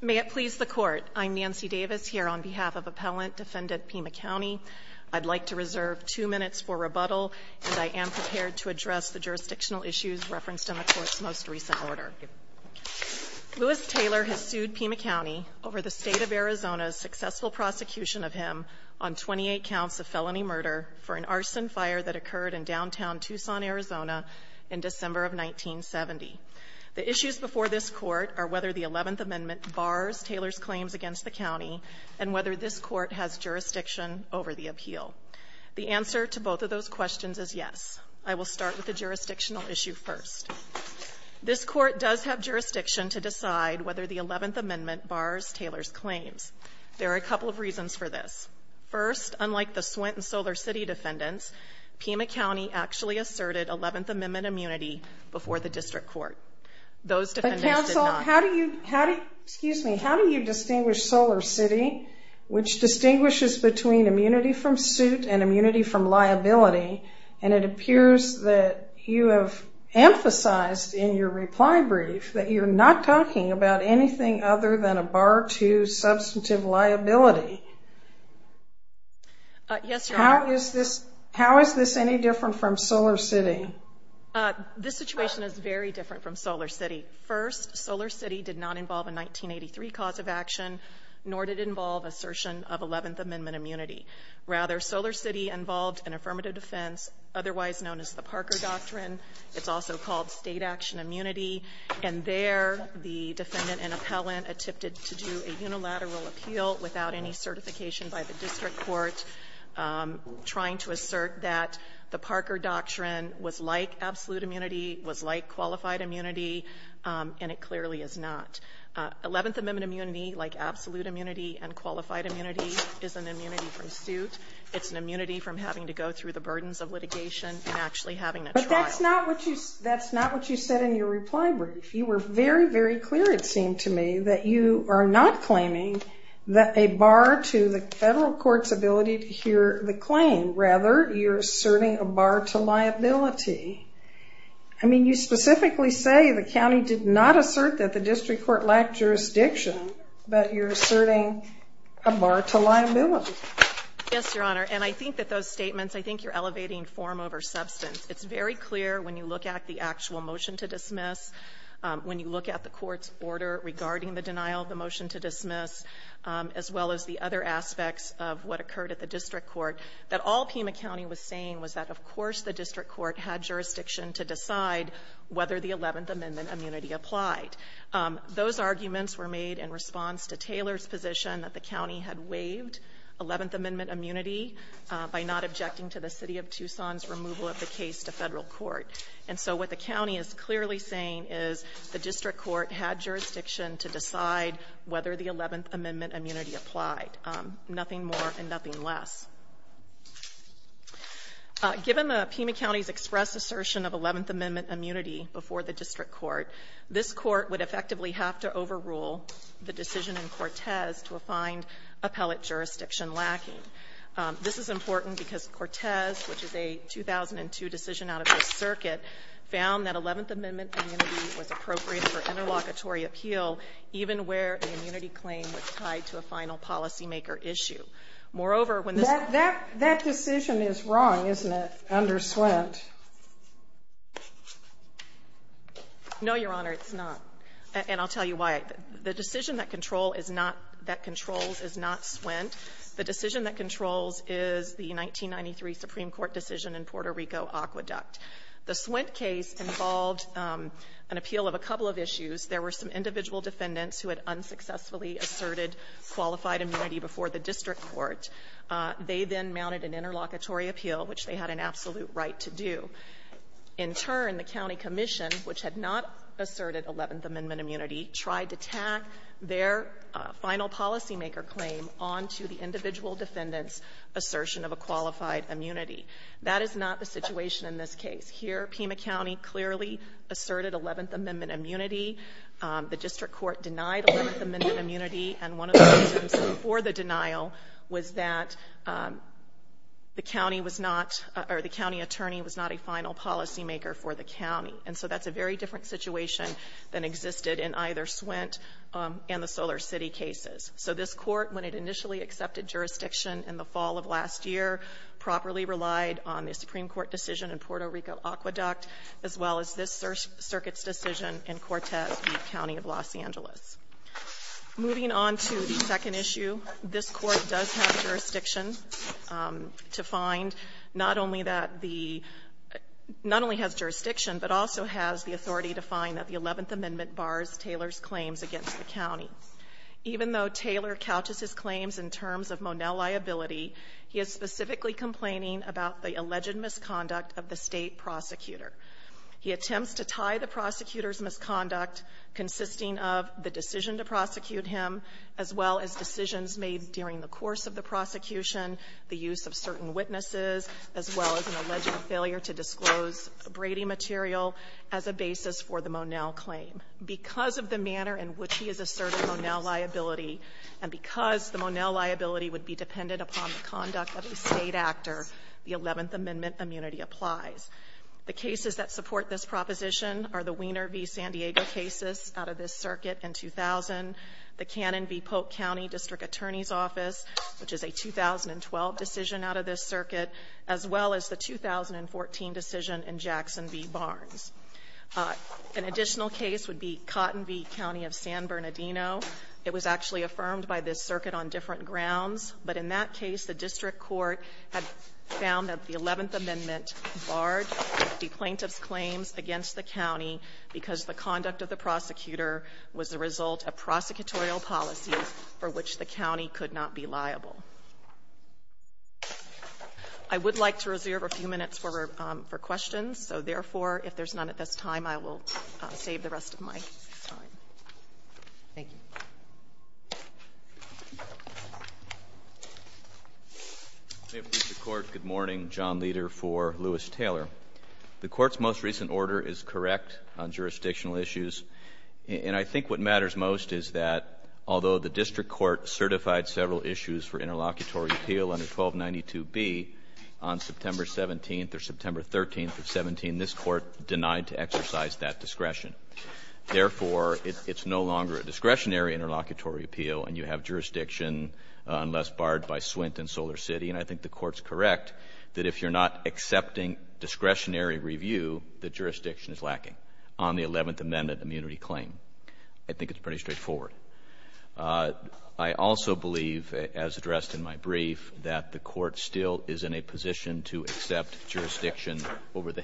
May it please the Court, I'm Nancy Davis here on behalf of Appellant Defendant Pima County. I'd like to reserve two minutes for rebuttal, and I am prepared to address the jurisdictional issues referenced in the Court's most recent order. Louis Taylor has sued Pima County over the State of Arizona's successful prosecution of him on 28 counts of felony murder for an arson fire that occurred in downtown Tucson, Arizona, in December of 1970. The issues before this Court are whether the 11th Amendment bars Taylor's claims against the County, and whether this Court has jurisdiction over the appeal. The answer to both of those questions is yes. I will start with the jurisdictional issue first. This Court does have jurisdiction to decide whether the 11th Amendment bars Taylor's claims. There are a couple of reasons for this. First, unlike the Swint and Solar City defendants, Pima County actually asserted 11th Amendment immunity before the District Court. Those defendants did not. But Counsel, how do you, how do you, excuse me, how do you distinguish Solar City, which distinguishes between immunity from suit and immunity from liability? And it appears that you have emphasized in your reply brief that you're not talking about anything other than a bar to substantive liability. Yes, Your Honor. How is this, how is this any different from Solar City? This situation is very different from Solar City. First, Solar City did not involve a 1983 cause of action, nor did it involve assertion of 11th Amendment immunity. Rather, Solar City involved an affirmative defense, otherwise known as the Parker Doctrine. It's also called State Action Immunity. And there, the defendant and appellant attempted to do a unilateral appeal without any certification by the District Court, trying to assert that the Parker Doctrine was like absolute immunity, was like qualified immunity, and it clearly is not. 11th Amendment immunity, like absolute immunity and qualified immunity, is an immunity from suit. It's an immunity from having to go through the burdens of litigation and actually having a trial. But that's not what you, that's not what you said in your reply brief. You were very, very clear, it seemed to me, that you are not claiming that a bar to liability is in the federal court's ability to hear the claim. Rather, you're asserting a bar to liability. I mean, you specifically say the county did not assert that the District Court lacked jurisdiction, but you're asserting a bar to liability. Yes, Your Honor. And I think that those statements, I think you're elevating form over substance. It's very clear when you look at the actual motion to dismiss, when you look at the court's denial of the motion to dismiss, as well as the other aspects of what occurred at the District Court, that all Pima County was saying was that, of course, the District Court had jurisdiction to decide whether the 11th Amendment immunity applied. Those arguments were made in response to Taylor's position that the county had waived 11th Amendment immunity by not objecting to the City of Tucson's removal of the case to federal court. And so what the county is clearly saying is the District Court had jurisdiction to decide whether the 11th Amendment immunity applied, nothing more and nothing less. Given the Pima County's express assertion of 11th Amendment immunity before the District Court, this Court would effectively have to overrule the decision in Cortez to find appellate jurisdiction lacking. This is important because Cortez, which is a 2002 decision out of this circuit, found that 11th Amendment immunity was appropriate for interlocutory appeal even where the immunity claim was tied to a final policymaker issue. Moreover, when this ---- Sotomayor, that decision is wrong, isn't it, under Swent? No, Your Honor, it's not. And I'll tell you why. The decision that control is not that controls is not Swent. The decision that controls is the 1993 Supreme Court decision in Puerto Rico Aqueduct. The Swent case involved an appeal of a couple of issues. There were some individual defendants who had unsuccessfully asserted qualified immunity before the District Court. They then mounted an interlocutory appeal, which they had an absolute right to do. In turn, the county commission, which had not asserted 11th Amendment immunity, tried to tack their final policymaker claim on to the individual defendant's assertion of a qualified immunity. That is not the situation in this case. Here, Pima County clearly asserted 11th Amendment immunity. The District Court denied 11th Amendment immunity. And one of the reasons for the denial was that the county was not or the county attorney was not a final policymaker for the county. And so that's a very different situation than existed in either Swent and the Solar City cases. So this Court, when it initially accepted jurisdiction in the fall of last year, properly relied on the Supreme Court decision in Puerto Rico Aqueduct, as well as this circuit's decision in Cortez, the county of Los Angeles. Moving on to the second issue, this Court does have jurisdiction to find not only that the — not only has jurisdiction, but also has the authority to find that the 11th Amendment bars Taylor's claims against the county. Even though Taylor couches his claims in terms of Monell liability, he has specific complaints about the alleged misconduct of the State prosecutor. He attempts to tie the prosecutor's misconduct, consisting of the decision to prosecute him, as well as decisions made during the course of the prosecution, the use of certain witnesses, as well as an alleged failure to disclose Brady material, as a basis for the Monell claim. Because of the manner in which he has asserted Monell liability, and because the Monell liability would be dependent upon the conduct of a State actor, the 11th Amendment immunity applies. The cases that support this proposition are the Wiener v. San Diego cases out of this circuit in 2000, the Cannon v. Polk County District Attorney's Office, which is a 2012 decision out of this circuit, as well as the 2014 decision in Jackson v. Barnes. An additional case would be Cotton v. County of San Bernardino. It was actually affirmed by this circuit on different grounds. But in that case, the district court had found that the 11th Amendment barred the plaintiff's claims against the county because the conduct of the prosecutor was the result of prosecutorial policy for which the county could not be liable. I would like to reserve a few minutes for questions. So, therefore, if there's none at this time, I will save the rest of my time. Thank you. May it please the Court, good morning. John Leder for Lewis-Taylor. The Court's most recent order is correct on jurisdictional issues. And I think what matters most is that, although the district court certified several issues for interlocutory appeal under 1292B on September 17th or September 13th of 17, this Court denied to exercise that discretion. Therefore, it's no longer a discretionary interlocutory appeal, and you have jurisdiction unless barred by Swint and SolarCity, and I think the Court's correct that if you're not accepting discretionary review, the jurisdiction is lacking on the 11th Amendment immunity claim. I think it's pretty straightforward. I also believe, as addressed in my brief, that the Court still is in a position to accept jurisdiction over the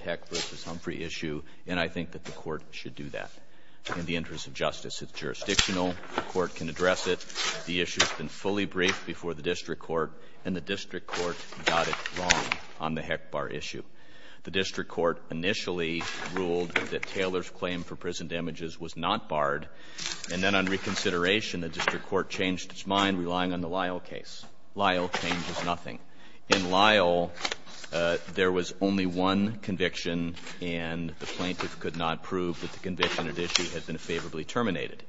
In the interest of justice, it's jurisdictional. The Court can address it. The issue has been fully briefed before the district court, and the district court got it wrong on the HECBAR issue. The district court initially ruled that Taylor's claim for prison damages was not barred, and then on reconsideration, the district court changed its mind, relying on the Lyle case. Lyle changes nothing. In Lyle, there was only one conviction, and the plaintiff could not prove that the conviction at issue had been favorably terminated.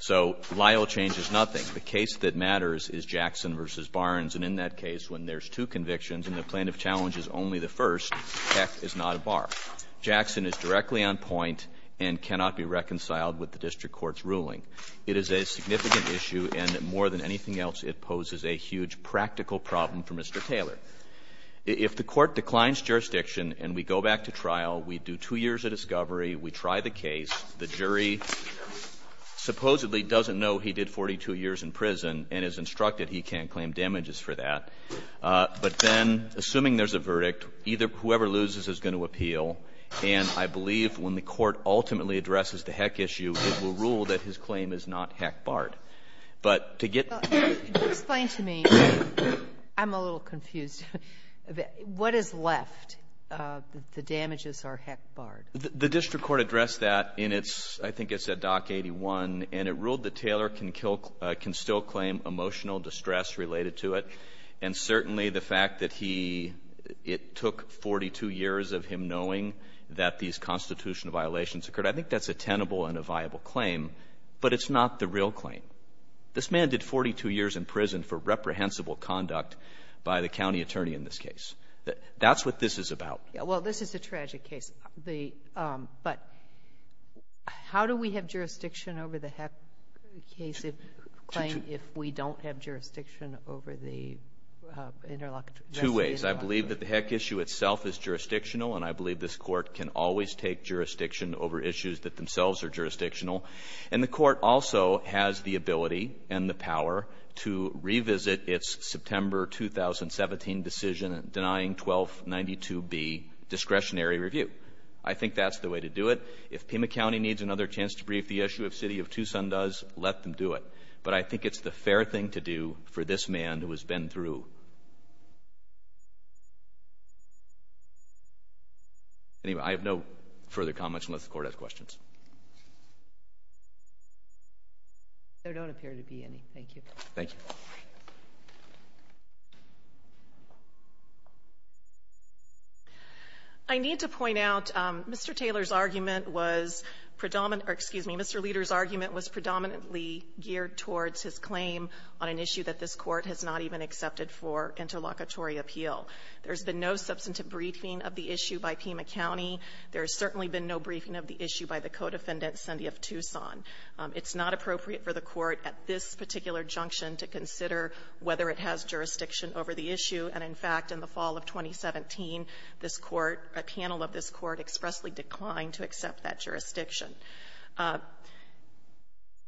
So Lyle changes nothing. The case that matters is Jackson v. Barnes, and in that case, when there's two convictions and the plaintiff challenges only the first, the HEC is not a bar. Jackson is directly on point and cannot be reconciled with the district court's ruling. It is a significant issue, and more than anything else, it poses a huge practical problem for Mr. Taylor. If the Court declines jurisdiction and we go back to trial, we do two years of discovery, we try the case, the jury supposedly doesn't know he did 42 years in prison and is instructed he can't claim damages for that. But then, assuming there's a verdict, either of them, whoever loses is going to appeal, and I believe when the Court ultimately addresses the HEC issue, it will rule that his claim is not HEC barred. But to get to the HEC issue, it's not HEC barred. Sotomayor, explain to me. I'm a little confused. What is left? The damages are HEC barred. The district court addressed that in its, I think it's at Dock 81, and it ruled that Taylor can kill can still claim emotional distress related to it, and certainly the fact that he, it took 42 years of him knowing that these constitutional violations occurred, I think that's a tenable and a viable claim, but it's not the real claim. This man did 42 years in prison for reprehensible conduct by the county attorney in this case. That's what this is about. Well, this is a tragic case. The but how do we have jurisdiction over the HEC case if, if we don't have jurisdiction over the interlocutor? Two ways. I believe that the HEC issue itself is jurisdictional, and I believe this Court can always take jurisdiction over issues that themselves are jurisdictional. And the Court also has the ability and the power to revisit its September 2017 decision denying 1292B discretionary review. I think that's the way to do it. If Pima County needs another chance to brief the issue, if City of Tucson does, let them do it. But I think it's the fair thing to do for this man who has been through anyway. I have no further comments unless the Court has questions. There don't appear to be any. Thank you. Thank you. I need to point out Mr. Taylor's argument was predominant or, excuse me, Mr. Leder's argument was predominantly geared towards his claim on an issue that this Court has not even accepted for interlocutory appeal. There's been no substantive briefing of the issue by Pima County. There's certainly been no briefing of the issue by the co-defendant, Cindy of Tucson. It's not appropriate for the Court at this particular junction to consider whether it has jurisdiction over the issue. And, in fact, in the fall of 2017, this Court, a panel of this Court, expressly declined to accept that jurisdiction.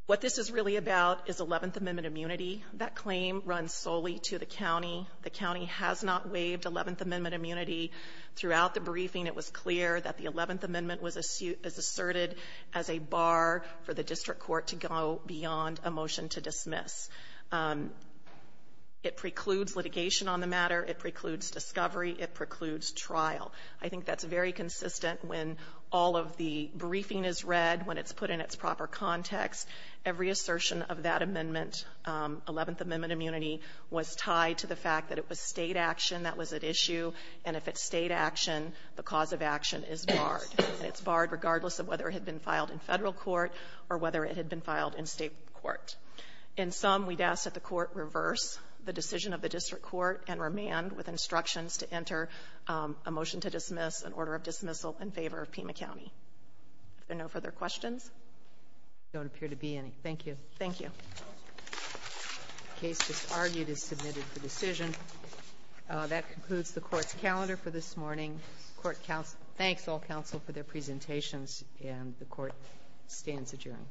What this is really about is Eleventh Amendment immunity. That claim runs solely to the county. The county has not waived Eleventh Amendment immunity. Throughout the briefing, it was clear that the Eleventh Amendment was asserted as a bar for the district court to go beyond a motion to dismiss. It precludes litigation on the matter. It precludes discovery. It precludes trial. I think that's very consistent when all of the briefing is read, when it's put in its proper context. Every assertion of that amendment, Eleventh Amendment immunity, was tied to the fact that it was State action that was at issue. And if it's State action, the cause of action is barred. It's barred regardless of whether it had been filed in Federal court or whether it had been filed in State court. In sum, we'd ask that the Court reverse the decision of the district court and remand with instructions to enter a motion to dismiss, an order of dismissal, in favor of Pima County. Are there no further questions? There don't appear to be any. Thank you. Thank you. Case just argued is submitted for decision. That concludes the Court's calendar for this morning. Thanks, all counsel, for their presentations. And the Court stands adjourned.